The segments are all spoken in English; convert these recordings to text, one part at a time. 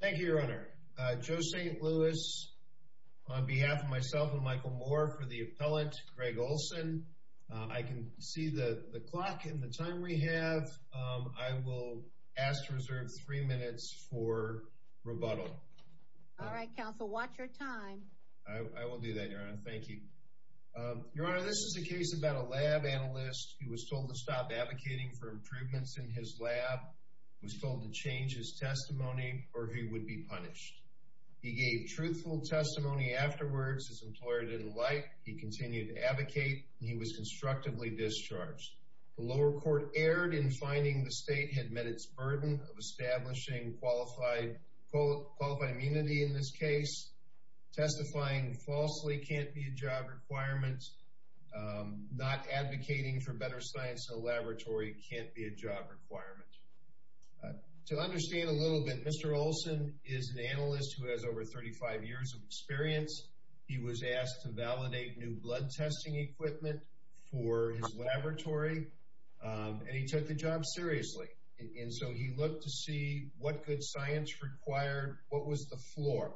Thank you, Your Honor. Joe St. Louis on behalf of myself and Michael Moore for the appellate Greg Ohlson. I can see the clock and the time we have. I will ask to reserve three minutes for rebuttal. All right, counsel, watch your time. I will do that, Your Honor. Thank you. Your Honor, this is a case about a lab analyst who was told to stop advocating for improvements in his lab, was told to change his testimony, or he would be punished. He gave truthful testimony afterwards. His employer didn't like. He continued to advocate. He was constructively discharged. The lower court erred in finding the state had met its burden of establishing qualified immunity in this case. Testifying falsely can't be a job requirement. Not advocating for better science in a laboratory can't be a job requirement. To understand a little bit, Mr. Ohlson is an analyst who has over 35 years of experience. He was asked to validate new blood testing equipment for his laboratory, and he took the required, what was the floor,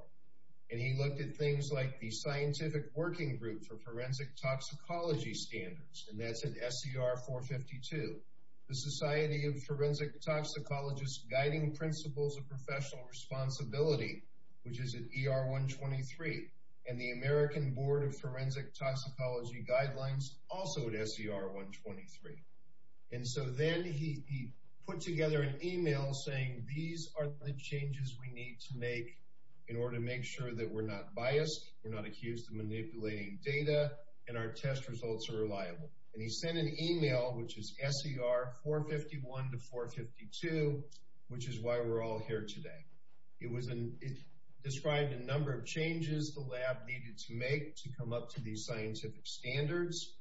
and he looked at things like the Scientific Working Group for Forensic Toxicology Standards, and that's at SER 452, the Society of Forensic Toxicologists Guiding Principles of Professional Responsibility, which is at ER 123, and the American Board of Forensic Toxicology Guidelines, also at SER 123. And so then he put together an email saying, these are the changes we need to make in order to make sure that we're not biased, we're not accused of manipulating data, and our test results are reliable. And he sent an email, which is SER 451 to 452, which is why we're all here today. It described a number of changes the lab needed to make to come up to these scientific standards.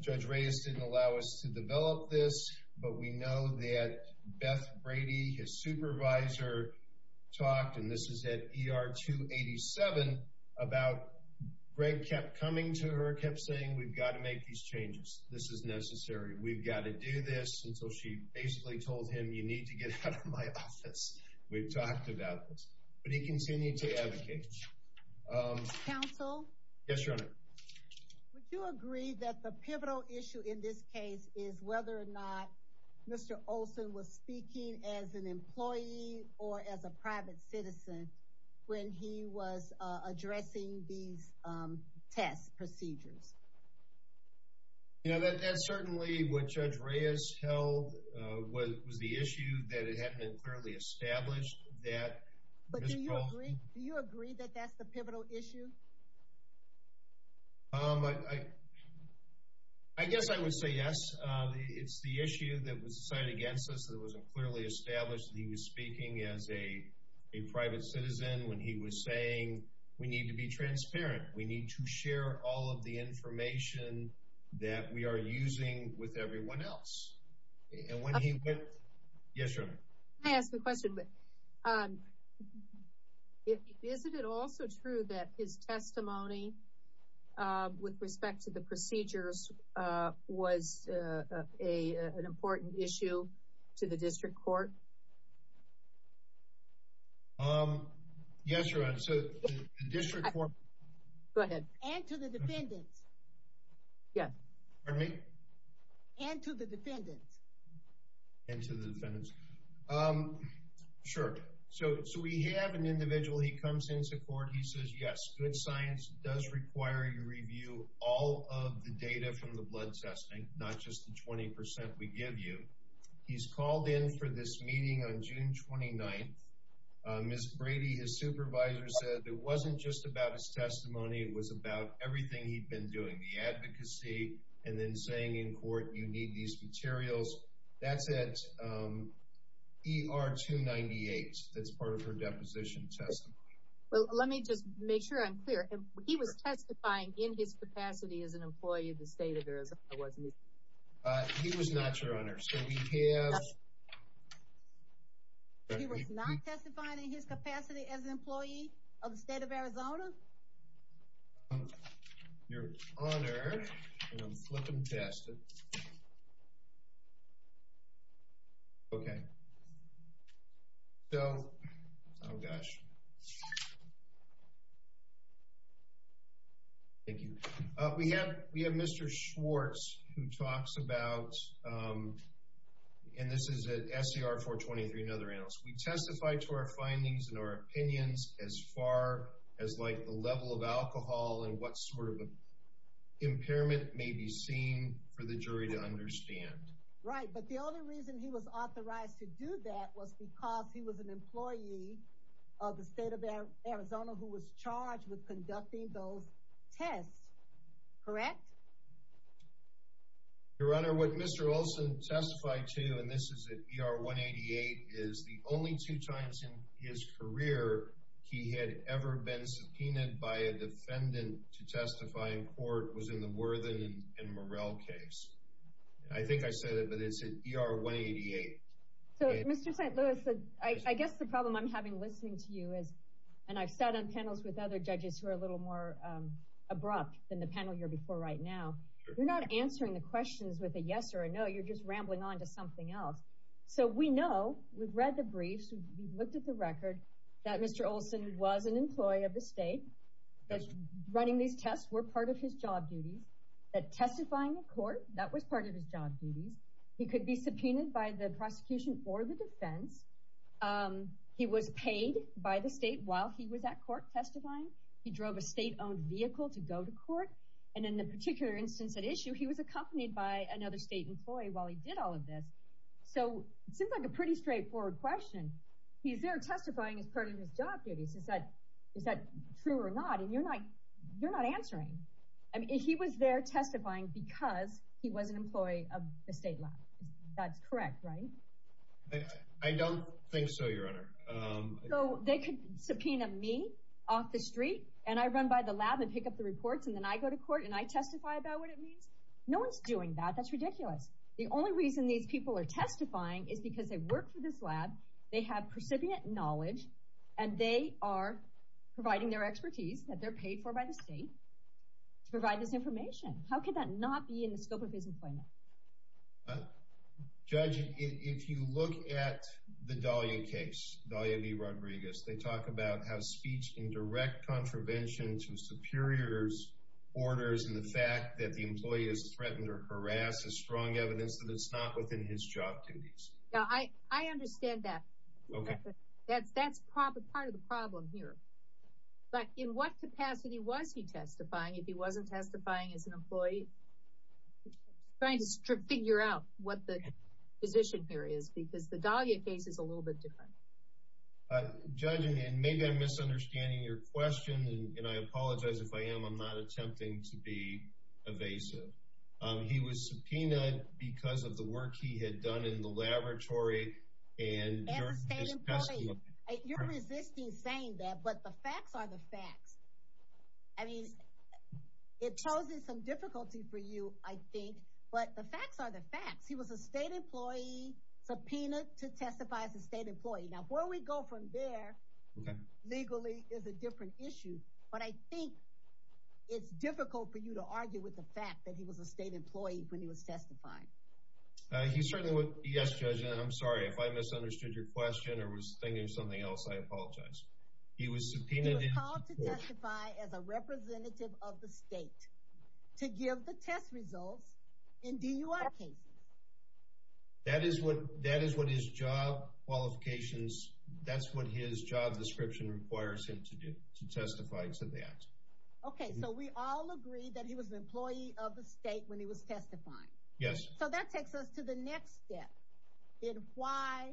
Judge Reyes didn't allow us to develop this, but we know that Beth Brady, his supervisor, talked, and this is at ER 287, about Greg kept coming to her, kept saying, we've got to make these changes. This is necessary. We've got to do this. And so she basically told him, you need to get out of my office. We've talked about this. But he continued to advocate. Counsel? Yes, Your Honor. Would you agree that the pivotal issue in this case is whether or not Mr. Olson was speaking as an employee or as a private citizen when he was addressing these test procedures? You know, that's certainly what Judge Reyes held was the issue that it hadn't been clearly established that... But do you agree, do you agree that that's the pivotal issue? Um, I guess I would say yes. It's the issue that was decided against us that wasn't clearly established that he was speaking as a private citizen when he was saying, we need to be transparent. We need to share all of the information that we are using with everyone else. And when he... Yes, Your Honor. Can I ask a question? Is it also true that his testimony with respect to the procedures was an important issue to the district court? Yes, Your Honor. So the district court... Go ahead. And to the defendants. Yes. And to the defendants. And to the defendants. Um, sure. So we have an individual, he comes into court, he says, yes, good science does require you review all of the data from the blood testing, not just the 20% we give you. He's called in for this meeting on June 29th. Ms. Brady, his supervisor, said it wasn't just about his testimony, it was about everything he'd been doing, the advocacy, and then saying in court, you need these materials. That's at ER 298. That's part of her deposition testimony. Well, let me just make sure I'm clear. He was testifying in his capacity as an employee of the state of Arizona, wasn't he? He was not, Your Honor. So we have... He was not testifying in his capacity as an employee of the state of Arizona? Your Honor, and I'm flipping past it. Okay. So, oh gosh. Thank you. We have, we have Mr. Schwartz, who talks about, and this is at SCR 423, another analyst. We testify to our findings and our opinions as far as, like, the level of alcohol and what sort of impairment may be seen for the jury to understand. Right, but the only reason he was authorized to do that was because he was an employee of the state of Arizona who was charged with conducting those tests, correct? Your Honor, what Mr. Olson testified to, and this is at ER 188, is the only two times in his career he had ever been subpoenaed by a defendant to testify in court was in the Worthen and Morrell case. I think I said it, but it's at ER 188. So, Mr. St. Louis, I guess the problem I'm having listening to you is, and I've sat on You're not answering the questions with a yes or a no. You're just rambling on to something else. So, we know, we've read the briefs, we've looked at the record, that Mr. Olson was an employee of the state, that running these tests were part of his job duties, that testifying in court, that was part of his job duties. He could be subpoenaed by the prosecution or the defense. He was paid by the state while he was at court testifying. He drove a state-owned vehicle to go to court. And in the particular instance at issue, he was accompanied by another state employee while he did all of this. So, it seems like a pretty straightforward question. He's there testifying as part of his job duties. Is that true or not? And you're not answering. He was there testifying because he was an employee of the state law. That's correct, right? I don't think so, Your Honor. So, they could subpoena me off the street, and I run by the lab and pick up the reports, and then I go to court and I testify about what it means? No one's doing that. That's ridiculous. The only reason these people are testifying is because they work for this lab, they have precipient knowledge, and they are providing their expertise that they're paid for by the state to provide this information. How could that not be in the scope of his employment? Well, Judge, if you look at the Dalia case, Dalia v. Rodriguez, they talk about how speech in direct contravention to superiors' orders and the fact that the employee is threatened or harassed is strong evidence that it's not within his job duties. Now, I understand that. That's part of the problem here. But in what capacity was he testifying if he wasn't testifying as an employee? I'm trying to figure out what the position here is, because the Dalia case is a little bit different. Judge, and maybe I'm misunderstanding your question, and I apologize if I am. I'm not attempting to be evasive. He was subpoenaed because of the work he had done in the laboratory and during his testimony. You're resisting saying that, but the facts are the facts. I mean, it poses some difficulty for you, I think. But the facts are the facts. He was a state employee, subpoenaed to testify as a state employee. Now, where we go from there legally is a different issue. But I think it's difficult for you to argue with the fact that he was a state employee when he was testifying. Yes, Judge, and I'm sorry if I misunderstood your question or was thinking of something else. I apologize. He was called to testify as a representative of the state to give the test results in DUI cases. That is what his job qualifications, that's what his job description requires him to do, to testify to that. Okay, so we all agree that he was an employee of the state when he was testifying. Yes. So that takes us to the next step in why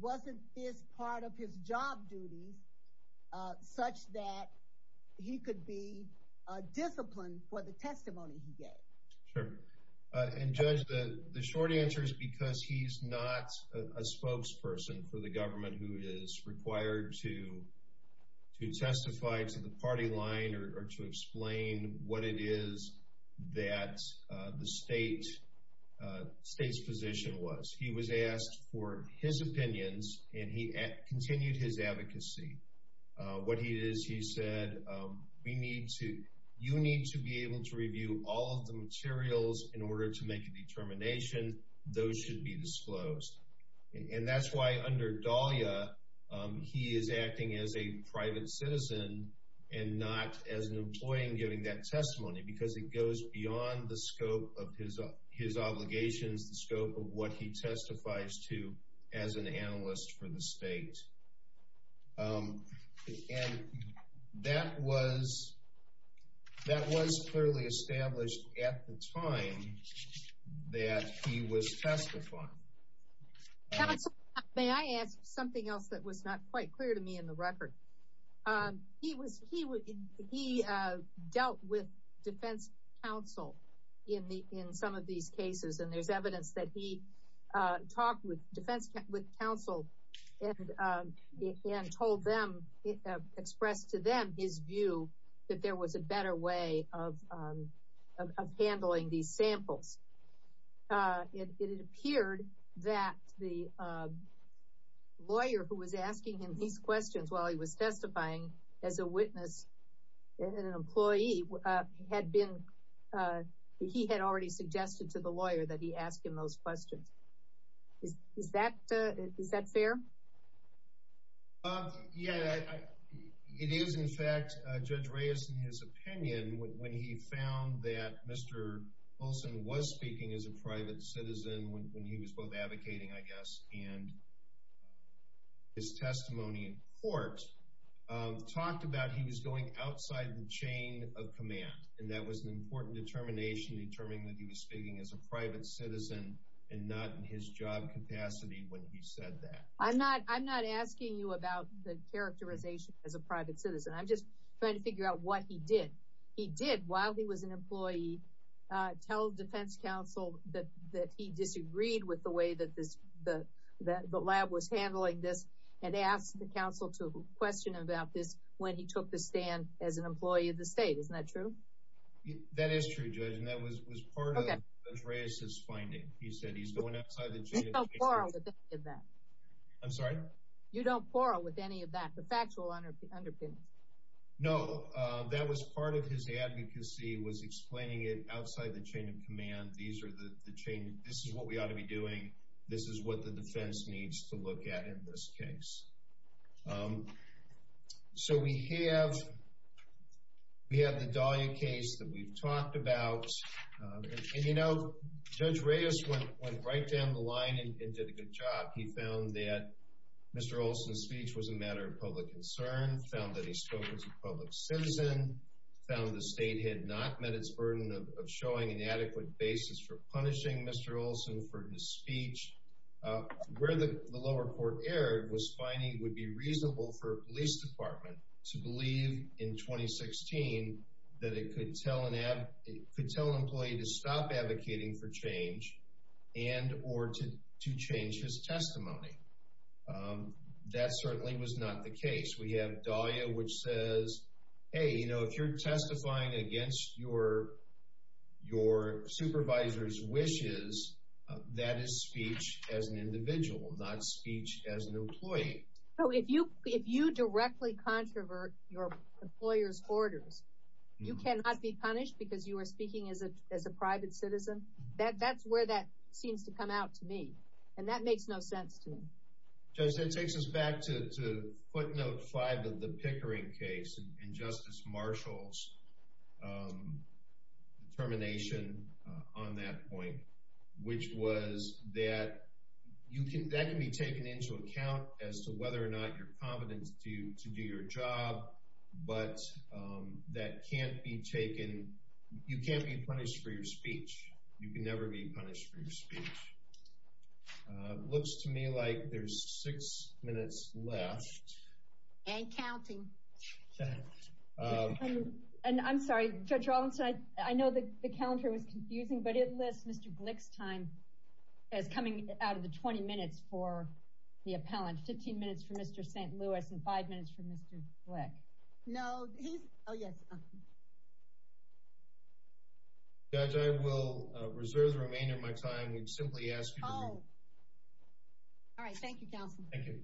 wasn't this part of his job duties such that he could be disciplined for the testimony he gave? Sure. And Judge, the short answer is because he's not a spokesperson for the government who to testify to the party line or to explain what it is that the state's position was. He was asked for his opinions and he continued his advocacy. What he did is he said, you need to be able to review all of the materials in order to make a determination. Those should be disclosed. And that's why under Dahlia, he is acting as a private citizen and not as an employee and giving that testimony because it goes beyond the scope of his obligations, the scope of what he testifies to as an analyst for the state. And that was clearly established at the time that he was testifying. Counsel, may I ask something else that was not quite clear to me in the record? He dealt with defense counsel in some of these cases, and there's evidence that he talked with defense counsel and told them, expressed to them his view that there was a better way of handling these samples. It appeared that the lawyer who was asking him these questions while he was testifying as a witness and an employee had been, he had already suggested to the lawyer that he ask him those questions. Is that fair? Yeah, it is in fact, Judge Reyes, in his opinion, when he found that Mr. Olson was speaking as a private citizen when he was both advocating, I guess, and his testimony in court, talked about he was going outside the chain of command. And that was an important determination, determining that he was speaking as a private citizen and not in his job capacity when he said that. I'm not asking you about the characterization as a private citizen. I'm just trying to figure out what he did. He did, while he was an employee, tell defense counsel that he disagreed with the way that the lab was handling this and asked the counsel to question him about this when he took the stand as an employee of the state. Isn't that true? That is true, Judge, and that was part of Judge Reyes' finding. He said he's going outside the chain of command. You don't quarrel with any of that. I'm sorry? You don't quarrel with any of that. The facts will underpin it. No, that was part of his advocacy was explaining it outside the chain of command. These are the chain. This is what we ought to be doing. This is what the defense needs to look at in this case. So we have the Dahlia case that we've talked about. You know, Judge Reyes went right down the line and did a good job. He found that Mr. Olson's speech was a matter of public concern, found that he spoke as a public citizen, found the state had not met its burden of showing an adequate basis for punishing Mr. Olson for his speech. Where the lower court erred was finding it would be reasonable for a police department to believe in 2016 that it could tell an employee to stop advocating for change and or to change his testimony. That certainly was not the case. We have Dahlia, which says, hey, you know, if you're testifying against your supervisor's wishes, that is speech as an individual, not speech as an employee. So if you directly controvert your employer's orders, you cannot be punished because you are speaking as a private citizen. That's where that seems to come out to me. And that makes no sense to me. Judge, that takes us back to footnote five of the Pickering case and Justice Marshall's determination on that point, which was that that can be taken into account as to whether or not you're competent to do your job. But that can't be taken, you can't be punished for your speech. You can never be punished for your speech. Looks to me like there's six minutes left. And counting. And I'm sorry, Judge Rawlinson, I know the calendar was confusing, but it lists Mr. Glick's as coming out of the 20 minutes for the appellant. 15 minutes for Mr. St. Louis and five minutes for Mr. Glick. No, he's, oh yes. Judge, I will reserve the remainder of my time. We simply ask you to. Oh, all right. Thank you, counsel. Thank you.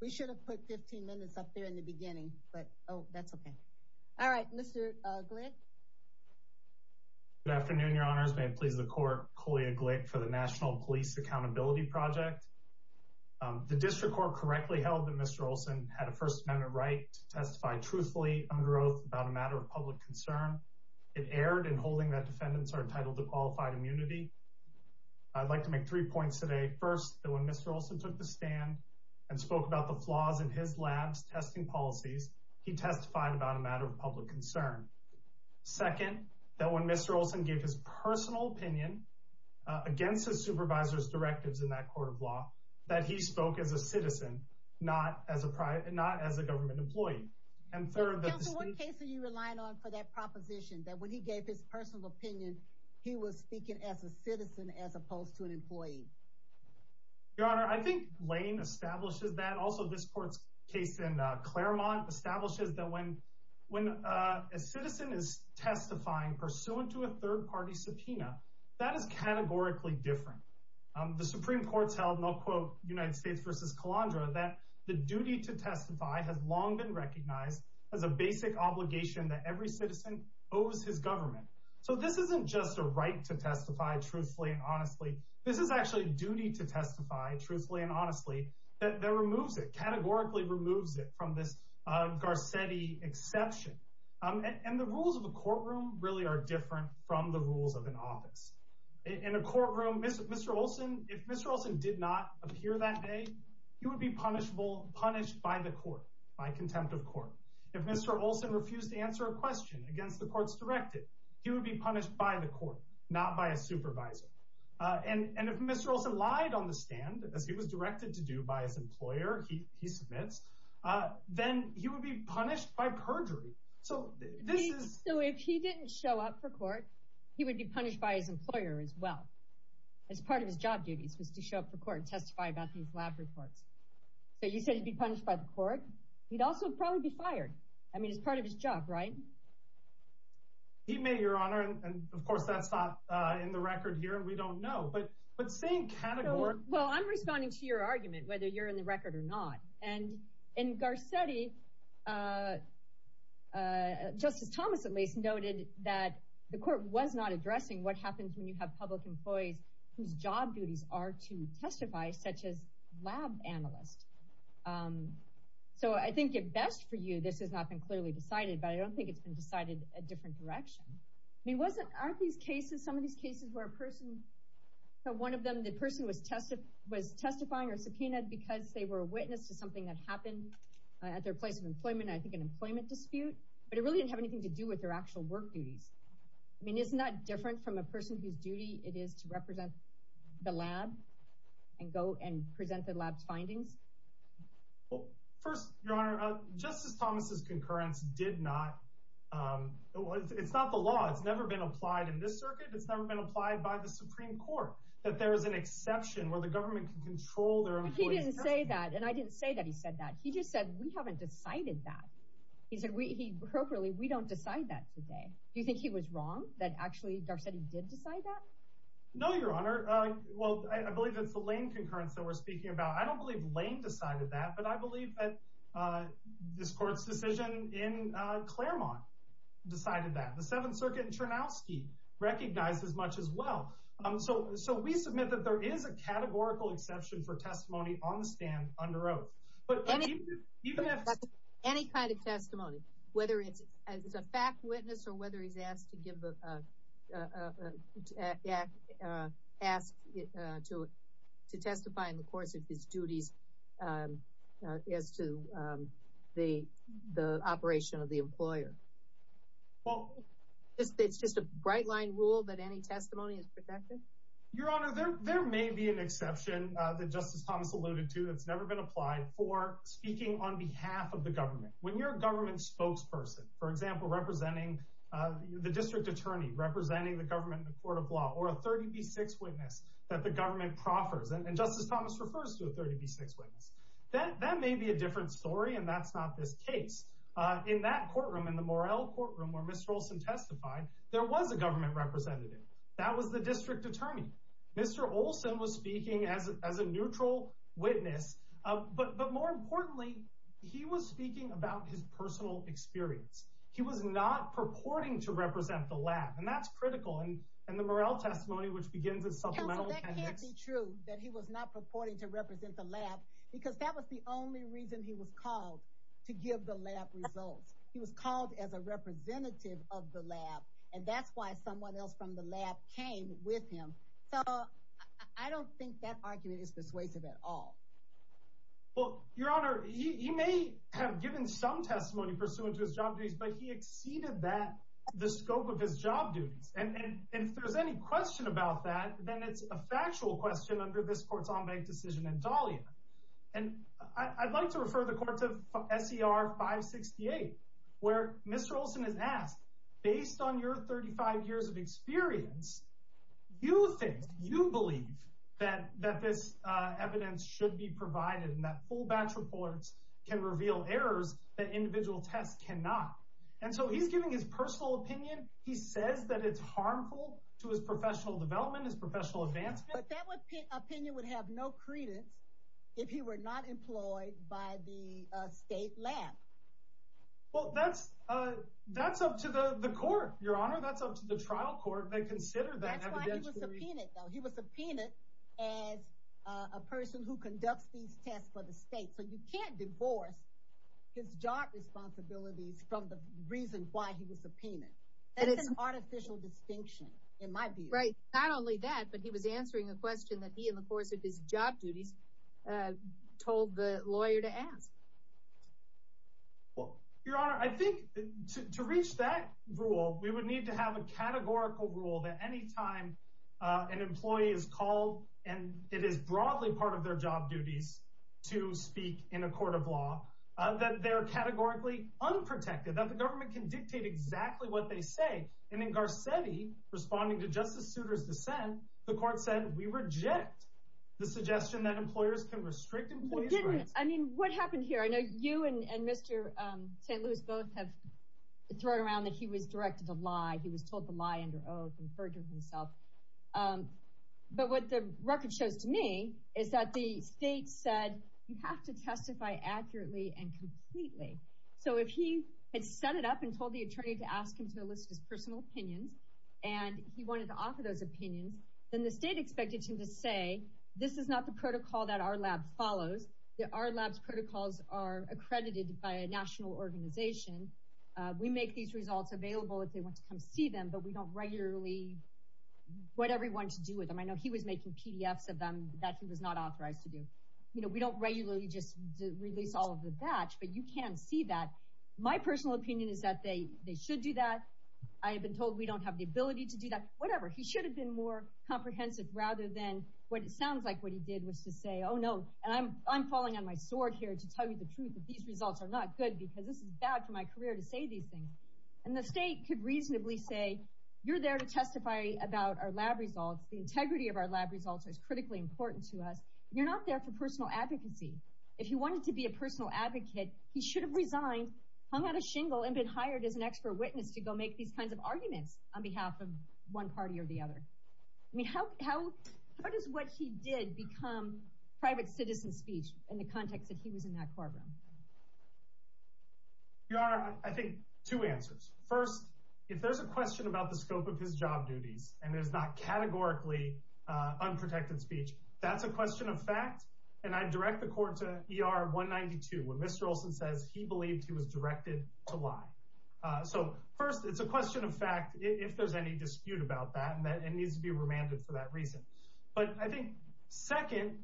We should have put 15 minutes up there in the beginning, but oh, that's okay. All right, Mr. Glick. Good afternoon, your honors. May it please the court. Colea Glick for the National Police Accountability Project. The district court correctly held that Mr. Rawlinson had a First Amendment right to testify truthfully under oath about a matter of public concern. It erred in holding that defendants are entitled to qualified immunity. I'd like to make three points today. First, that when Mr. Rawlinson took the stand and spoke about the flaws in his lab's testing policies, he testified about a matter of public concern. Second, that when Mr. Rawlinson gave his personal opinion against his supervisor's directives in that court of law, that he spoke as a citizen, not as a private, not as a government employee. And third- Counsel, what case are you relying on for that proposition that when he gave his personal opinion, he was speaking as a citizen as opposed to an employee? Your honor, I think Lane establishes that. Also, this court's case in Claremont establishes that when a citizen is testifying pursuant to a third-party subpoena, that is categorically different. The Supreme Court's held, and I'll quote United States v. Calandra, that the duty to testify has long been recognized as a basic obligation that every citizen owes his government. So this isn't just a right to testify truthfully and honestly. This is actually a duty to testify truthfully and honestly that removes it, categorically removes it from this Garcetti exception. And the rules of the courtroom really are different from the rules of an office. In a courtroom, Mr. Olson, if Mr. Olson did not appear that day, he would be punishable, punished by the court, by contempt of court. If Mr. Olson refused to answer a question against the court's directive, he would be punished by the court, not by a supervisor. And if Mr. Olson lied on the stand, as he was directed to do by his employer, he submits, then he would be punished by perjury. So this is- So if he didn't show up for court, he would be punished by his employer as well. As part of his job duties was to show up for court and testify about these lab reports. So you said he'd be punished by the court. He'd also probably be fired. I mean, it's part of his job, right? He may, Your Honor. And of course, that's not in the record here, and we don't know. But same category- Well, I'm responding to your argument, whether you're in the record or not. And in Garcetti, Justice Thomas, at least, noted that the court was not addressing what happens when you have public employees whose job duties are to testify, such as lab analysts. So I think at best for you, this has not been clearly decided, but I don't think it's been decided a different direction. I mean, wasn't- Aren't these cases, some of these cases where a person, one of them, the person was testifying or subpoenaed because they were a witness to something that happened at their place of employment, I think an employment dispute. But it really didn't have anything to do with their actual work duties. I mean, isn't that different from a person whose duty it is to represent the lab and go and present the lab's findings? Well, first, Your Honor, Justice Thomas's concurrence did not- It's not the law. It's never been applied in this circuit. It's never been applied by the Supreme Court, that there is an exception where the government can control their employees- But he didn't say that. And I didn't say that he said that. He just said, we haven't decided that. He said, we don't decide that today. Do you think he was wrong, that actually Garcetti did decide that? No, Your Honor. Well, I believe it's the Lane concurrence that we're speaking about. I don't believe Lane decided that. But I believe that this court's decision in Claremont decided that. The Seventh Circuit in Chernowski recognized as much as well. So we submit that there is a categorical exception for testimony on the stand under oath. But even if- Any kind of testimony, whether it's a fact witness or whether he's asked to give a- Well, it's just a bright line rule that any testimony is protected? Your Honor, there may be an exception that Justice Thomas alluded to that's never been applied for speaking on behalf of the government. When you're a government spokesperson, for example, representing the district attorney, representing the government in the court of law, or a 30B6 witness that the government proffers, and Justice Thomas refers to a 30B6 witness, that may be a different story. And that's not this case. In that courtroom, in the Morrell courtroom, where Mr. Olson testified, there was a government representative. That was the district attorney. Mr. Olson was speaking as a neutral witness. But more importantly, he was speaking about his personal experience. He was not purporting to represent the lab. And that's critical. And the Morrell testimony, which begins- Counsel, that can't be true that he was not purporting to represent the lab, because that was the only reason he was called to give the lab results. He was called as a representative of the lab. And that's why someone else from the lab came with him. So I don't think that argument is persuasive at all. Well, Your Honor, he may have given some testimony pursuant to his job duties, but he exceeded that, the scope of his job duties. And if there's any question about that, then it's a factual question under this court's ombud decision in Dahlia. And I'd like to refer the court to SER 568, where Mr. Olson is asked, based on your 35 years of experience, do you think, do you believe that this evidence should be provided and that full batch reports can reveal errors that individual tests cannot? And so he's giving his personal opinion. He says that it's harmful to his professional development, his professional advancement. But that opinion would have no credence if he were not employed by the state lab. Well, that's up to the court, Your Honor. That's up to the trial court. They consider that evidence to be- That's why he was subpoenaed, though. He was subpoenaed as a person who conducts these tests for the state. So you can't divorce his job responsibilities from the reason why he was subpoenaed. That's an artificial distinction, in my view. Right. Not only that, but he was answering a question that he, in the course of his job duties, told the lawyer to ask. Well, Your Honor, I think to reach that rule, we would need to have a categorical rule that any time an employee is called, and it is broadly part of their job duties to speak in a court of law, that they're categorically unprotected, that the government can dictate exactly what they say. And in Garcetti, responding to Justice Souter's dissent, the court said, we reject the suggestion that employers can restrict employees' rights. I mean, what happened here? I know you and Mr. St. Louis both have thrown around that he was directed a lie. He was told the lie under oath and furthered himself. But what the record shows to me is that the state said, you have to testify accurately and completely. So if he had set it up and told the attorney to ask him to elicit his personal opinions, and he wanted to offer those opinions, then the state expected him to say, this is not the protocol that our lab follows. Our lab's protocols are accredited by a national organization. We make these results available if they want to come see them, but we don't regularly what everyone should do with them. I know he was making PDFs of them that he was not authorized to do. You know, we don't regularly just release all of the batch, but you can see that. My personal opinion is that they should do that. I have been told we don't have the ability to do that. Whatever. He should have been more comprehensive rather than what it sounds like what he did was to say, oh, no. And I'm falling on my sword here to tell you the truth that these results are not good because this is bad for my career to say these things. And the state could reasonably say, you're there to testify about our lab results. The integrity of our lab results is critically important to us. You're not there for personal advocacy. If he wanted to be a personal advocate, he should have resigned, hung out a shingle and been hired as an expert witness to go make these kinds of arguments on behalf of one party or the other. I mean, how does what he did become private citizen speech in the context that he was in that courtroom? Your Honor, I think two answers. First, if there's a question about the scope of his job duties and there's not categorically unprotected speech, that's a question of fact. And I direct the court to ER 192 when Mr. Olson says he believed he was directed to lie. So first, it's a question of fact if there's any dispute about that and that it needs to be remanded for that reason. But I think second,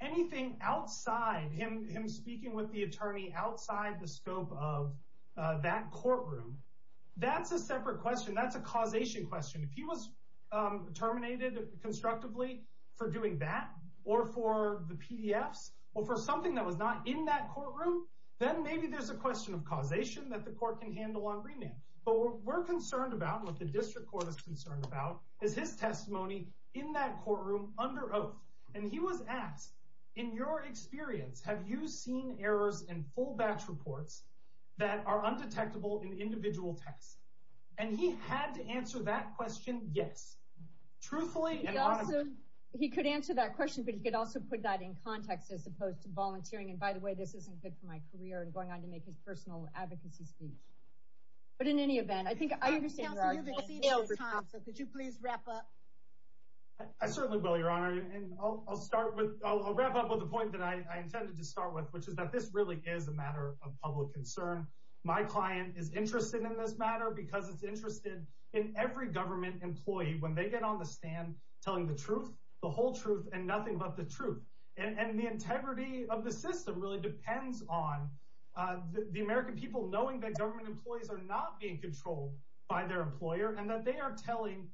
anything outside him, him speaking with the attorney outside the scope of that courtroom, that's a separate question. That's a causation question. If he was terminated constructively for doing that or for the PDFs or for something that was not in that courtroom, then maybe there's a question of causation that the court can handle on remand. But what we're concerned about, what the district court is concerned about, is his testimony in that courtroom under oath. And he was asked, in your experience, have you seen errors in full batch reports that are undetectable in individual texts? And he had to answer that question, yes. Truthfully and honestly. He could answer that question, but he could also put that in context as opposed to volunteering. And by the way, this isn't good for my career and going on to make his personal advocacy speech. But in any event, I think I understand. Counsel, you've exceeded your time, so could you please wrap up? I certainly will, Your Honor. And I'll wrap up with the point that I intended to start with, which is that this really is a matter of public concern. My client is interested in this matter because it's interested in every government employee when they get on the stand telling the truth, the whole truth, and nothing but the truth. And the integrity of the system really depends on the American people knowing that government employees are not being controlled by their employer and that they are telling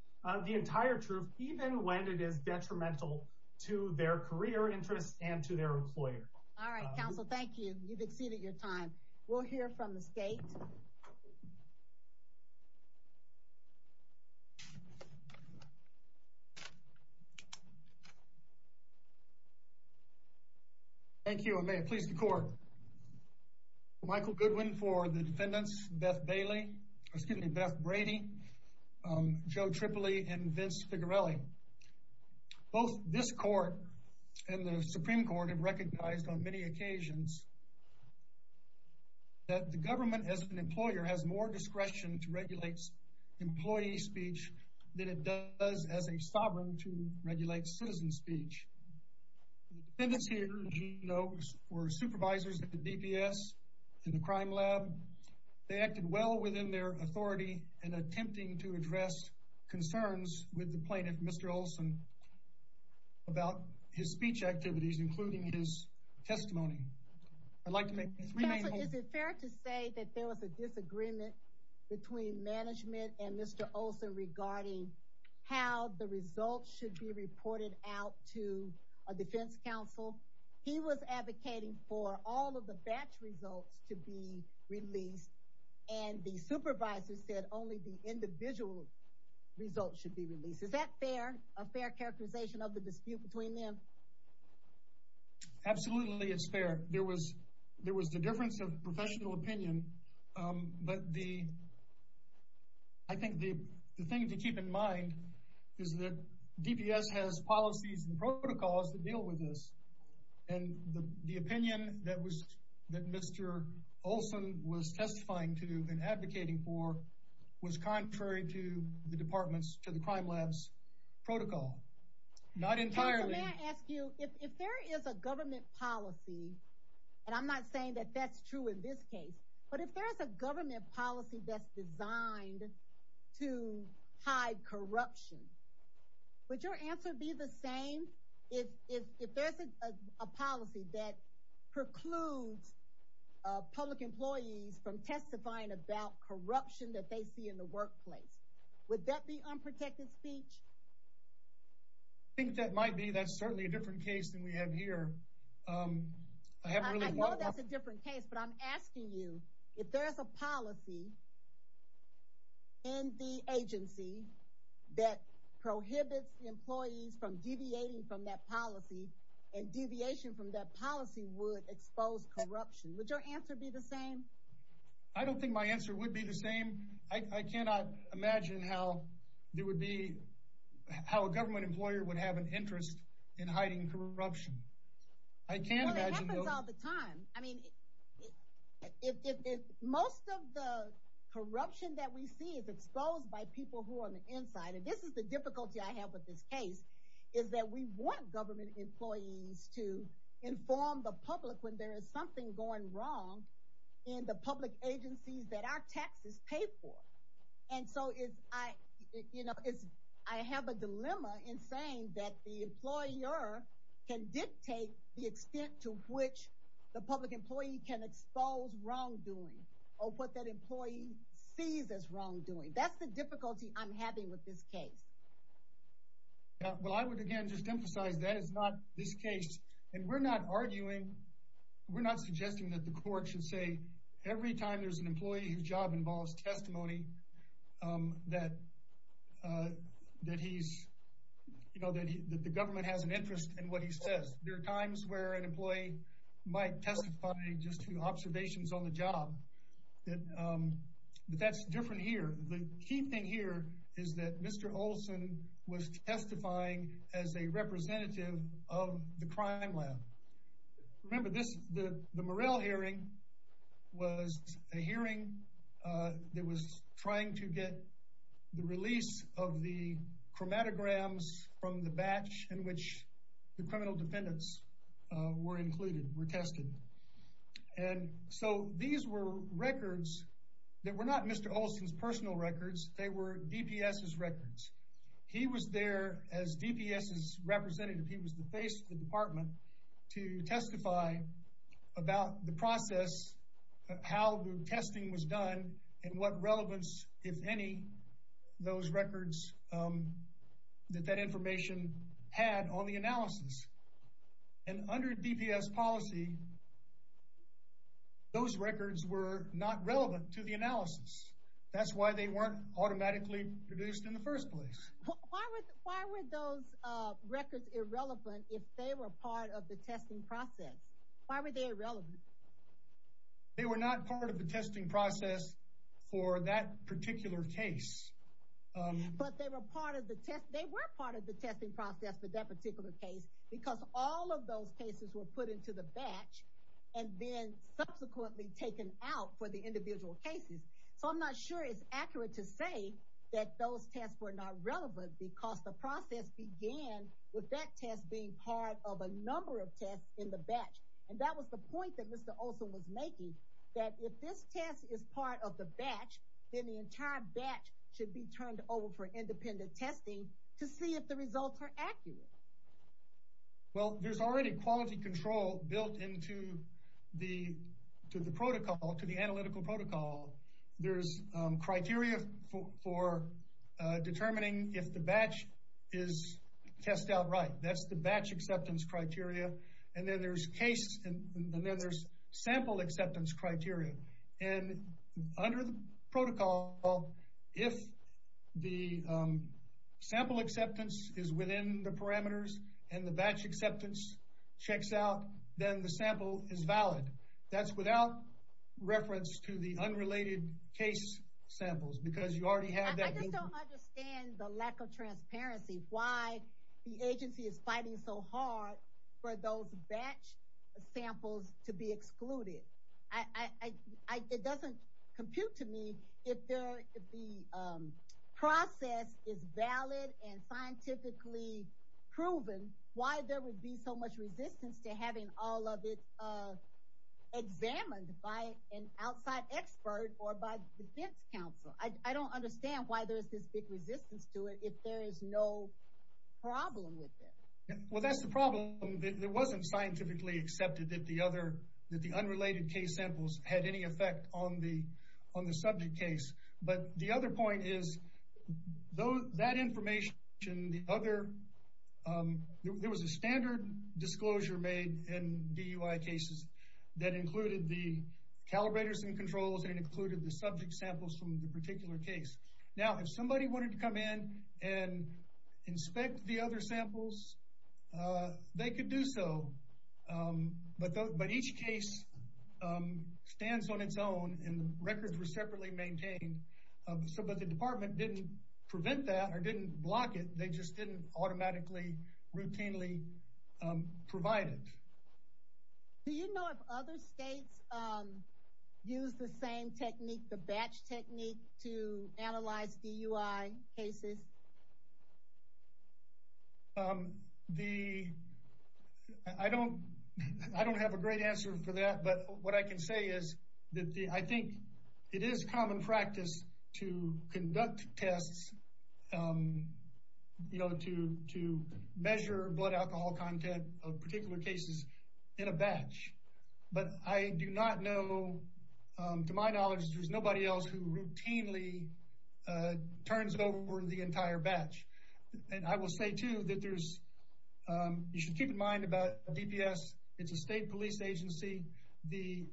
the entire truth, even when it is detrimental to their career interests and to their employer. All right, Counsel, thank you. You've exceeded your time. We'll hear from the State. Thank you. And may it please the Court. Michael Goodwin for the defendants, Beth Bailey, excuse me, Beth Brady, Joe Tripoli, and Vince Figarelli. Both this Court and the Supreme Court have recognized on many occasions that the government as an employer has more discretion to regulate employee speech than it does as a sovereign to regulate citizen speech. The defendants here, as you know, were supervisors at the DPS and the crime lab. They acted well within their authority in attempting to address concerns with the plaintiff, Mr. Olson, about his speech activities, including his testimony. I'd like to make this remain whole. Counsel, is it fair to say that there was a disagreement between management and Mr. Olson regarding how the results should be reported out to a defense counsel? He was advocating for all of the batch results to be released, and the supervisor said only the individual results should be released. Is that fair, a fair characterization of the dispute between them? Absolutely, it's fair. There was the difference of professional opinion, but I think the thing to keep in mind is that DPS has policies and protocols that deal with this. And the opinion that Mr. Olson was testifying to and advocating for was contrary to the crime lab's protocol, not entirely. Counsel, may I ask you, if there is a government policy, and I'm not saying that that's true in this case, but if there's a government policy that's designed to hide corruption, would your answer be the same if there's a policy that precludes public employees from testifying about corruption that they see in the workplace? Would that be unprotected speech? I think that might be. That's certainly a different case than we have here. I know that's a different case, but I'm asking you, if there's a policy in the agency that prohibits employees from deviating from that policy, and deviation from that policy would expose corruption, would your answer be the same? I don't think my answer would be the same. I cannot imagine how there would be, how a government employer would have an interest in hiding corruption. I can't imagine. Well, it happens all the time. I mean, if most of the corruption that we see is exposed by people who are on the inside, and this is the difficulty I have with this case, is that we want government employees to inform the public when there is something going wrong in the public agencies that our taxes pay for. And so, I have a dilemma in saying that the employer can dictate the extent to which the public employee can expose wrongdoing, or what that employee sees as wrongdoing. That's the difficulty I'm having with this case. Well, I would, again, just emphasize that is not this case, and we're not arguing, we're there's an employee whose job involves testimony that he's, you know, that the government has an interest in what he says. There are times where an employee might testify just to observations on the job, but that's different here. The key thing here is that Mr. Olson was testifying as a representative of the crime lab. Remember, the Murrell hearing was a hearing that was trying to get the release of the chromatograms from the batch in which the criminal defendants were included, were tested. And so, these were records that were not Mr. Olson's personal records. They were DPS's records. He was there as DPS's representative. He was the face of the department to testify about the process, how the testing was done, and what relevance, if any, those records, that that information had on the analysis. And under DPS policy, those records were not relevant to the analysis. That's why they weren't automatically produced in the first place. Why were those records irrelevant if they were part of the testing process? Why were they irrelevant? They were not part of the testing process for that particular case. But they were part of the test. They were part of the testing process for that particular case because all of those cases were put into the batch and then subsequently taken out for the individual cases. So, I'm not sure it's accurate to say that those tests were not relevant because the process began with that test being part of a number of tests in the batch. And that was the point that Mr. Olson was making, that if this test is part of the batch, then the entire batch should be turned over for independent testing to see if the results are accurate. Well, there's already quality control built into the protocol, to the analytical protocol. There's criteria for determining if the batch is test outright. That's the batch acceptance criteria. And then there's case and then there's sample acceptance criteria. And under the protocol, if the sample acceptance is within the parameters, and the batch acceptance checks out, then the sample is valid. That's without reference to the unrelated case samples because you already have that. I just don't understand the lack of transparency. Why the agency is fighting so hard for those batch samples to be excluded. I, it doesn't compute to me if the process is valid and scientifically proven, why there would be so much resistance to having all of it examined by an outside expert or by defense counsel. I don't understand why there's this big resistance to it if there is no problem with it. Well, that's the problem. It wasn't scientifically accepted that the other, that the unrelated case samples had any effect on the subject case. But the other point is, that information, the other, there was a standard disclosure made in DUI cases that included the calibrators and controls and included the subject samples from the particular case. Now, if somebody wanted to come in and inspect the other samples, they could do so. But each case stands on its own and records were separately maintained. So, but the department didn't prevent that or didn't block it. They just didn't automatically, routinely provide it. Do you know if other states use the same technique, the batch technique to analyze DUI cases? The, I don't, I don't have a great answer for that. But what I can say is that I think it is common practice to conduct tests, you know, to measure blood alcohol content of particular cases in a batch. But I do not know, to my knowledge, there's nobody else who routinely turns over the entire batch. And I will say, too, that there's, you should keep in mind about DPS. It's a state police agency. The,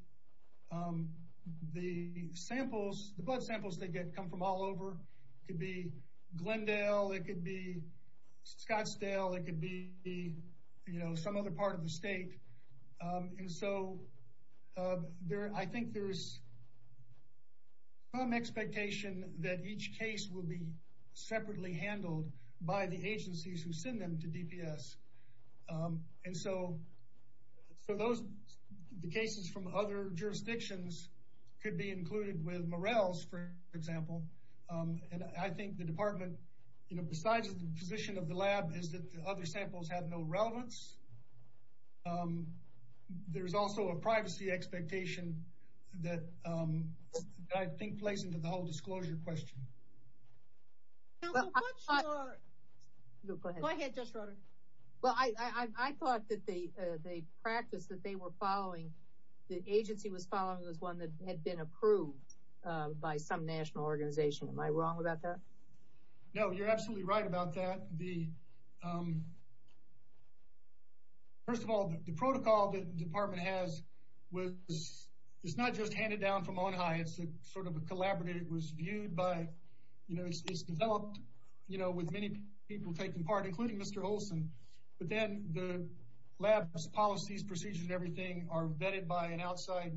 the samples, the blood samples they get come from all over. It could be Glendale, it could be Scottsdale, it could be, you know, some other part of the state. And so, there, I think there's some expectation that each case will be separately handled. By the agencies who send them to DPS. And so, so those, the cases from other jurisdictions could be included with Morrell's, for example. And I think the department, you know, besides the position of the lab, is that the other samples have no relevance. There's also a privacy expectation that I think plays into the whole disclosure question. Well, go ahead, Judge Schroeder. Well, I, I thought that they, they practiced that they were following, the agency was following this one that had been approved by some national organization. Am I wrong about that? No, you're absolutely right about that. The, first of all, the protocol that the department has was, it's not just handed down from Ohio. It's a sort of a collaborative. It was viewed by, you know, it's developed, you know, with many people taking part, including Mr. Olson. But then the labs, policies, procedures, and everything are vetted by an outside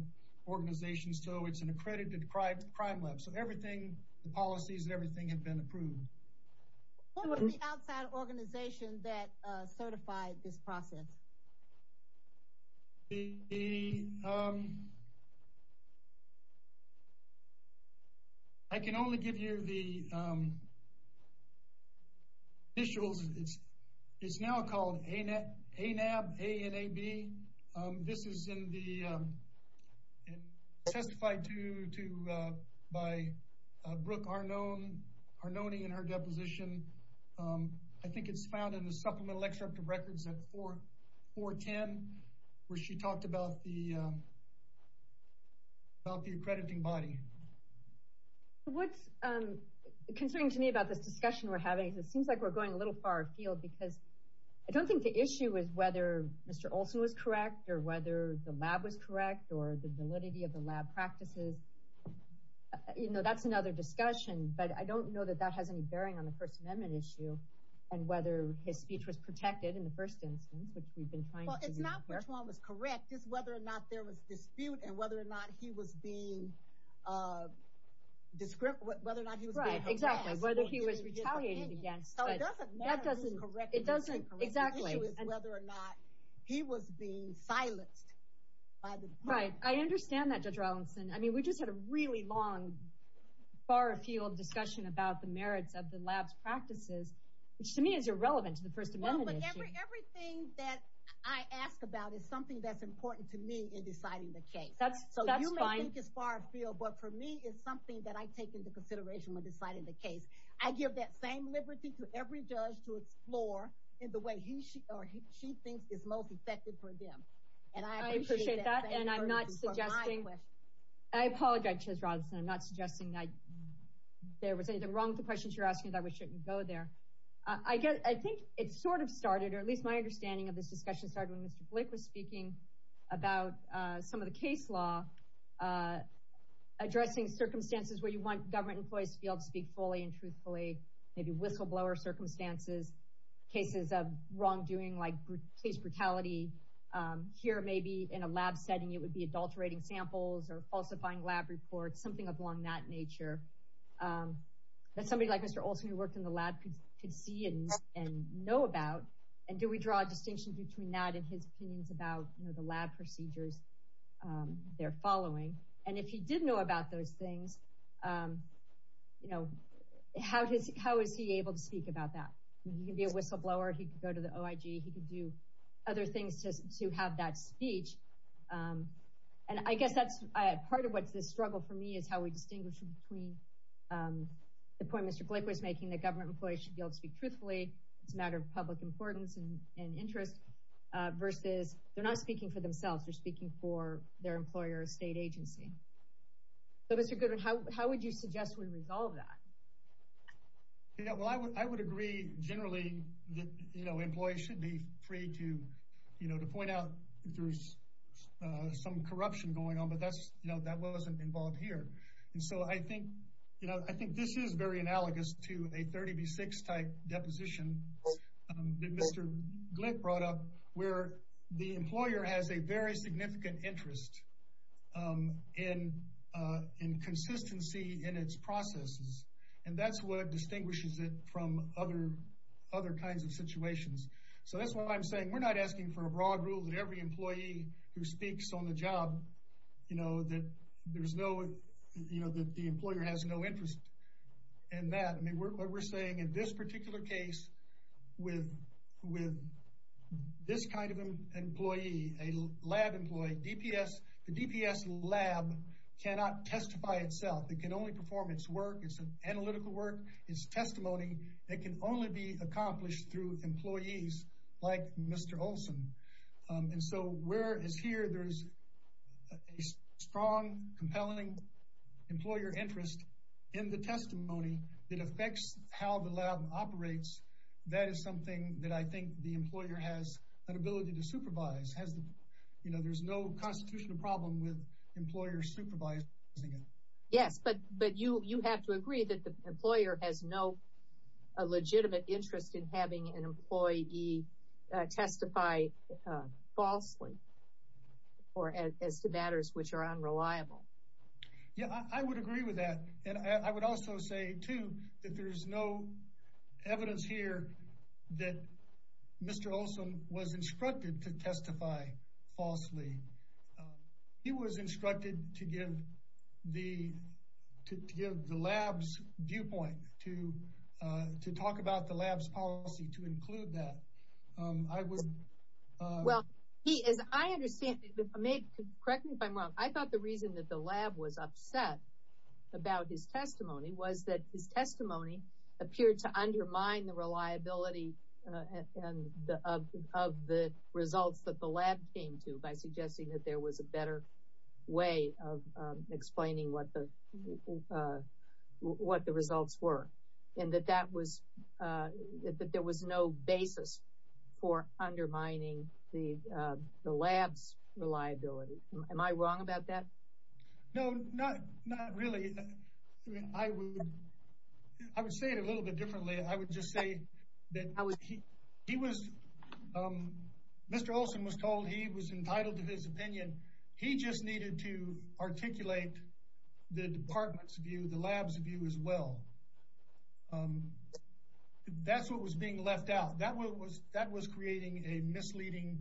organization. So, it's an accredited crime lab. So, everything, the policies, everything had been approved. What was the outside organization that certified this process? The, I can only give you the initials. It's, it's now called ANAB, A-N-A-B. This is in the, and testified to, to, by Brooke Arnone, Arnone in her deposition. I think it's found in the supplemental extract of records at 410, where she talked about the, about the accrediting body. What's concerning to me about this discussion we're having is it seems like we're going a little far afield because I don't think the issue is whether Mr. Olson was correct, or whether the lab was correct, or the validity of the lab practices. You know, that's another discussion. But I don't know that that has any bearing on the First Amendment issue, and whether his speech was protected in the first instance, which we've been trying to do here. Well, it's not which one was correct. It's whether or not there was dispute, and whether or not he was being, whether or not he was being harassed. Exactly. Whether he was retaliated against. So, it doesn't matter who's correct. It doesn't, exactly. The issue is whether or not he was being silenced. Right. I understand that, Judge Rawlinson. I mean, we just had a really long, far afield discussion about the merits of the lab's practices, which to me is irrelevant to the First Amendment issue. Well, but everything that I ask about is something that's important to me in deciding the case. That's fine. So, you may think it's far afield, but for me, it's something that I take into consideration when deciding the case. I give that same liberty to every judge to explore in the way he or she thinks is most effective for them. And I appreciate that. And I'm not suggesting, I apologize, Judge Rawlinson. I'm not suggesting that there was anything wrong with the questions you're asking, that we shouldn't go there. I think it sort of started, or at least my understanding of this discussion started when Mr. Blick was speaking about some of the case law, addressing circumstances where you want government employees to be able to speak fully and truthfully, maybe whistleblower circumstances, cases of wrongdoing like case brutality. Here, maybe in a lab setting, it would be adulterating samples or falsifying lab reports, something along that nature that somebody like Mr. Olson who worked in the lab could see and know about. And do we draw a distinction between that and his opinions about the lab procedures they're following? And if he did know about those things, how is he able to speak about that? He could be a whistleblower, he could go to the OIG, he could do other things just to have that speech. And I guess that's part of what's the struggle for me is how we distinguish between the point Mr. Blick was making, that government employees should be able to speak truthfully, it's a matter of public importance and interest, versus they're not speaking for themselves, they're speaking for their employer or state agency. So Mr. Goodwin, how would you suggest we resolve that? Well, I would agree generally that employees should be free to point out if there's some corruption going on, but that wasn't involved here. And so I think this is very analogous to a 30 v. 6 type deposition that Mr. Blick brought up, where the employer has a very significant interest in consistency in its processes. And that's what distinguishes it from other kinds of situations. So that's why I'm saying we're not asking for a broad rule that every employee who speaks on the job, that the employer has no interest in that. What we're saying in this particular case, with this kind of employee, a lab employee, the DPS lab cannot testify itself. It can only perform its work, its analytical work, its testimony, that can only be accomplished through employees like Mr. Olson. And so whereas here there's a strong, compelling employer interest in the testimony, it affects how the lab operates. That is something that I think the employer has an ability to supervise. You know, there's no constitutional problem with employers supervising it. Yes, but you have to agree that the employer has no legitimate interest in having an employee testify falsely or as to matters which are unreliable. Yeah, I would agree with that. And I would also say, too, that there's no evidence here that Mr. Olson was instructed to testify falsely. He was instructed to give the lab's viewpoint, to talk about the lab's policy, to include that. Well, as I understand it, correct me if I'm wrong, I thought the reason that the lab was his testimony was that his testimony appeared to undermine the reliability of the results that the lab came to by suggesting that there was a better way of explaining what the results were and that there was no basis for undermining the lab's reliability. Am I wrong about that? No, not really. I would say it a little bit differently. I would just say that Mr. Olson was told he was entitled to his opinion. He just needed to articulate the department's view, the lab's view as well. That's what was being left out. That was creating a misleading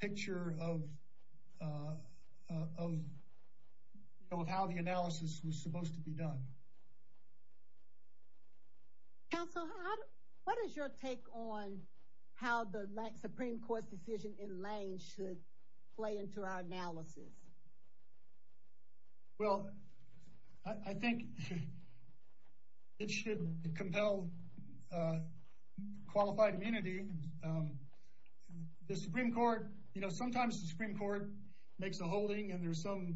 picture of how the analysis was supposed to be done. Counsel, what is your take on how the Supreme Court's decision in Lane should play into our analysis? Well, I think it should compel qualified immunity. The Supreme Court, you know, sometimes the Supreme Court makes a holding and there's some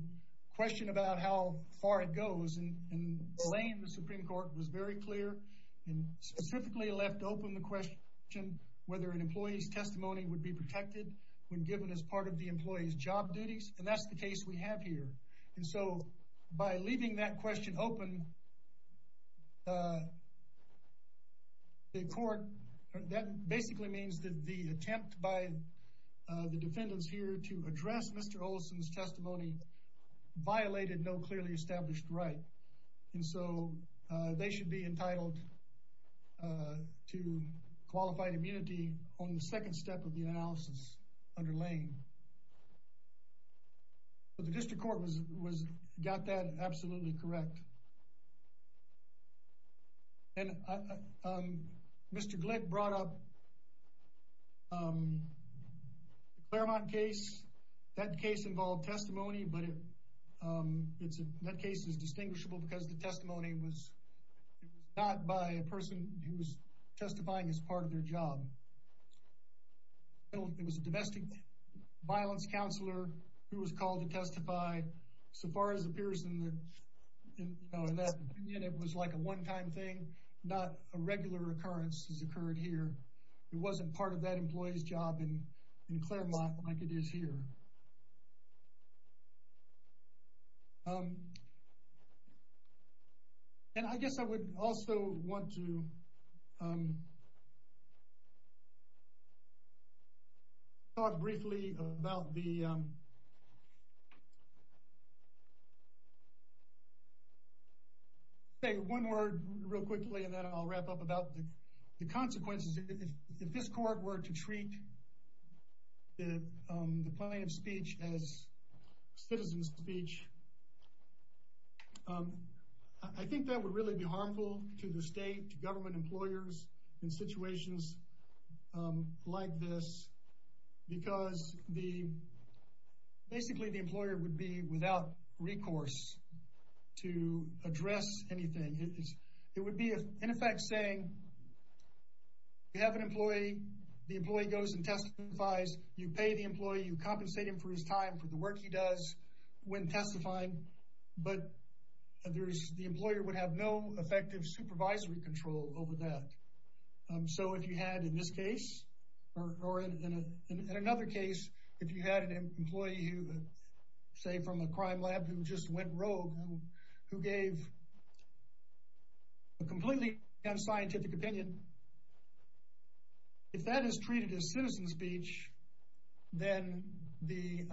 question about how far it goes. In Lane, the Supreme Court was very clear and specifically left open the question whether an employee's testimony would be protected when given as part of the employee's job duties. That's the case we have here. By leaving that question open, that basically means that the attempt by the defendants here to address Mr. Olson's testimony violated no clearly established right. They should be entitled to qualified immunity on the second step of the analysis under Lane. The district court got that absolutely correct. Mr. Glick brought up the Claremont case. That case involved testimony, but that case is distinguishable because the testimony was not by a person who was testifying as part of their job. It was a domestic violence counselor who was called to testify. So far as it appears in that opinion, it was like a one-time thing. Not a regular occurrence has occurred here. It wasn't part of that employee's job in Claremont like it is here. And I guess I would also want to talk briefly about the... Say one word real quickly and then I'll wrap up about the consequences. If this court were to treat the plaintiff's speech as a citizen's speech, I think that would really be harmful to the state, to government employers in situations like this because basically the employer would be without recourse to address anything. It would be in effect saying you have an employee, the employee goes and testifies, you pay the employee, you compensate him for his time, for the work he does when testifying, but the employer would have no effective supervisory control over that. So if you had in this case, or in another case, if you had an employee who, say from a crime lab who just went rogue, who gave a completely unscientific opinion, if that is treated as citizen speech, then the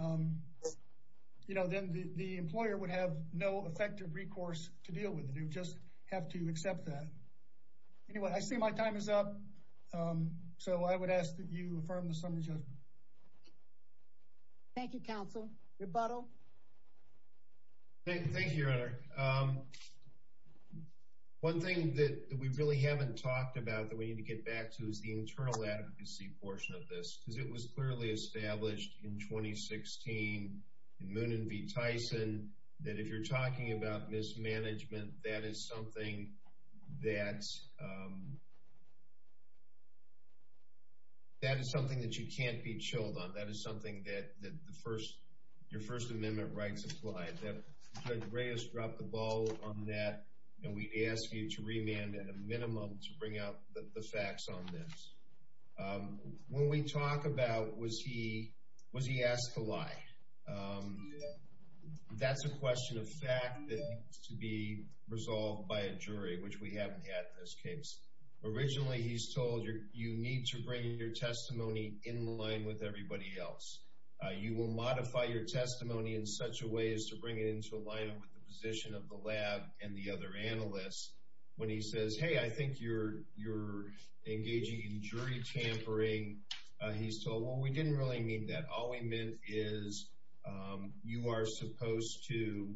employer would have no effective recourse to deal with it. You would just have to accept that. Anyway, I see my time is up. So I would ask that you affirm the summary judgment. Thank you, counsel. Rebuttal. Thank you, your honor. One thing that we really haven't talked about that we need to get back to is the internal advocacy portion of this because it was clearly established in 2016 in Moon and V. Tyson that if you're talking about mismanagement, that is something that you can't be chilled on. That is something that your First Amendment rights apply. That Greg Reyes dropped the ball on that, and we ask you to remand at a minimum to bring out the facts on this. When we talk about was he asked to lie, that's a question of fact that needs to be resolved by a jury, which we haven't had in this case. Originally, he's told you need to bring your testimony in line with everybody else. You will modify your testimony in such a way as to bring it into alignment with the position of the lab and the other analysts. When he says, hey, I think you're engaging in jury tampering, he's told, well, we didn't really mean that. All we meant is you are supposed to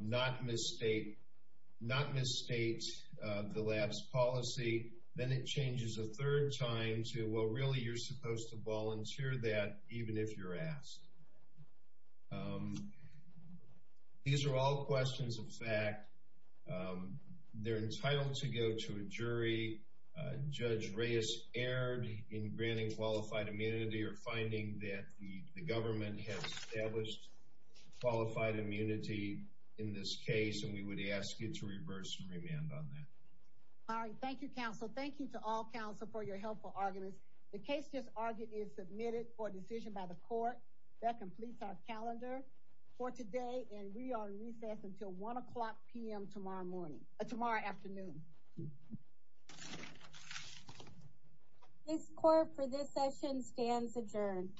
not misstate the lab's policy. Then it changes a third time to, well, really, you're supposed to volunteer that even if you're asked. These are all questions of fact. They're entitled to go to a jury. Judge Reyes erred in granting qualified immunity or finding that the government has established qualified immunity in this case, and we would ask you to reverse and remand on that. All right. Thank you, counsel. Thank you to all counsel for your helpful arguments. The case just argued is submitted for decision by the court. That completes our calendar for today, and we are in recess until 1 o'clock p.m. tomorrow afternoon. This court for this session stands adjourned.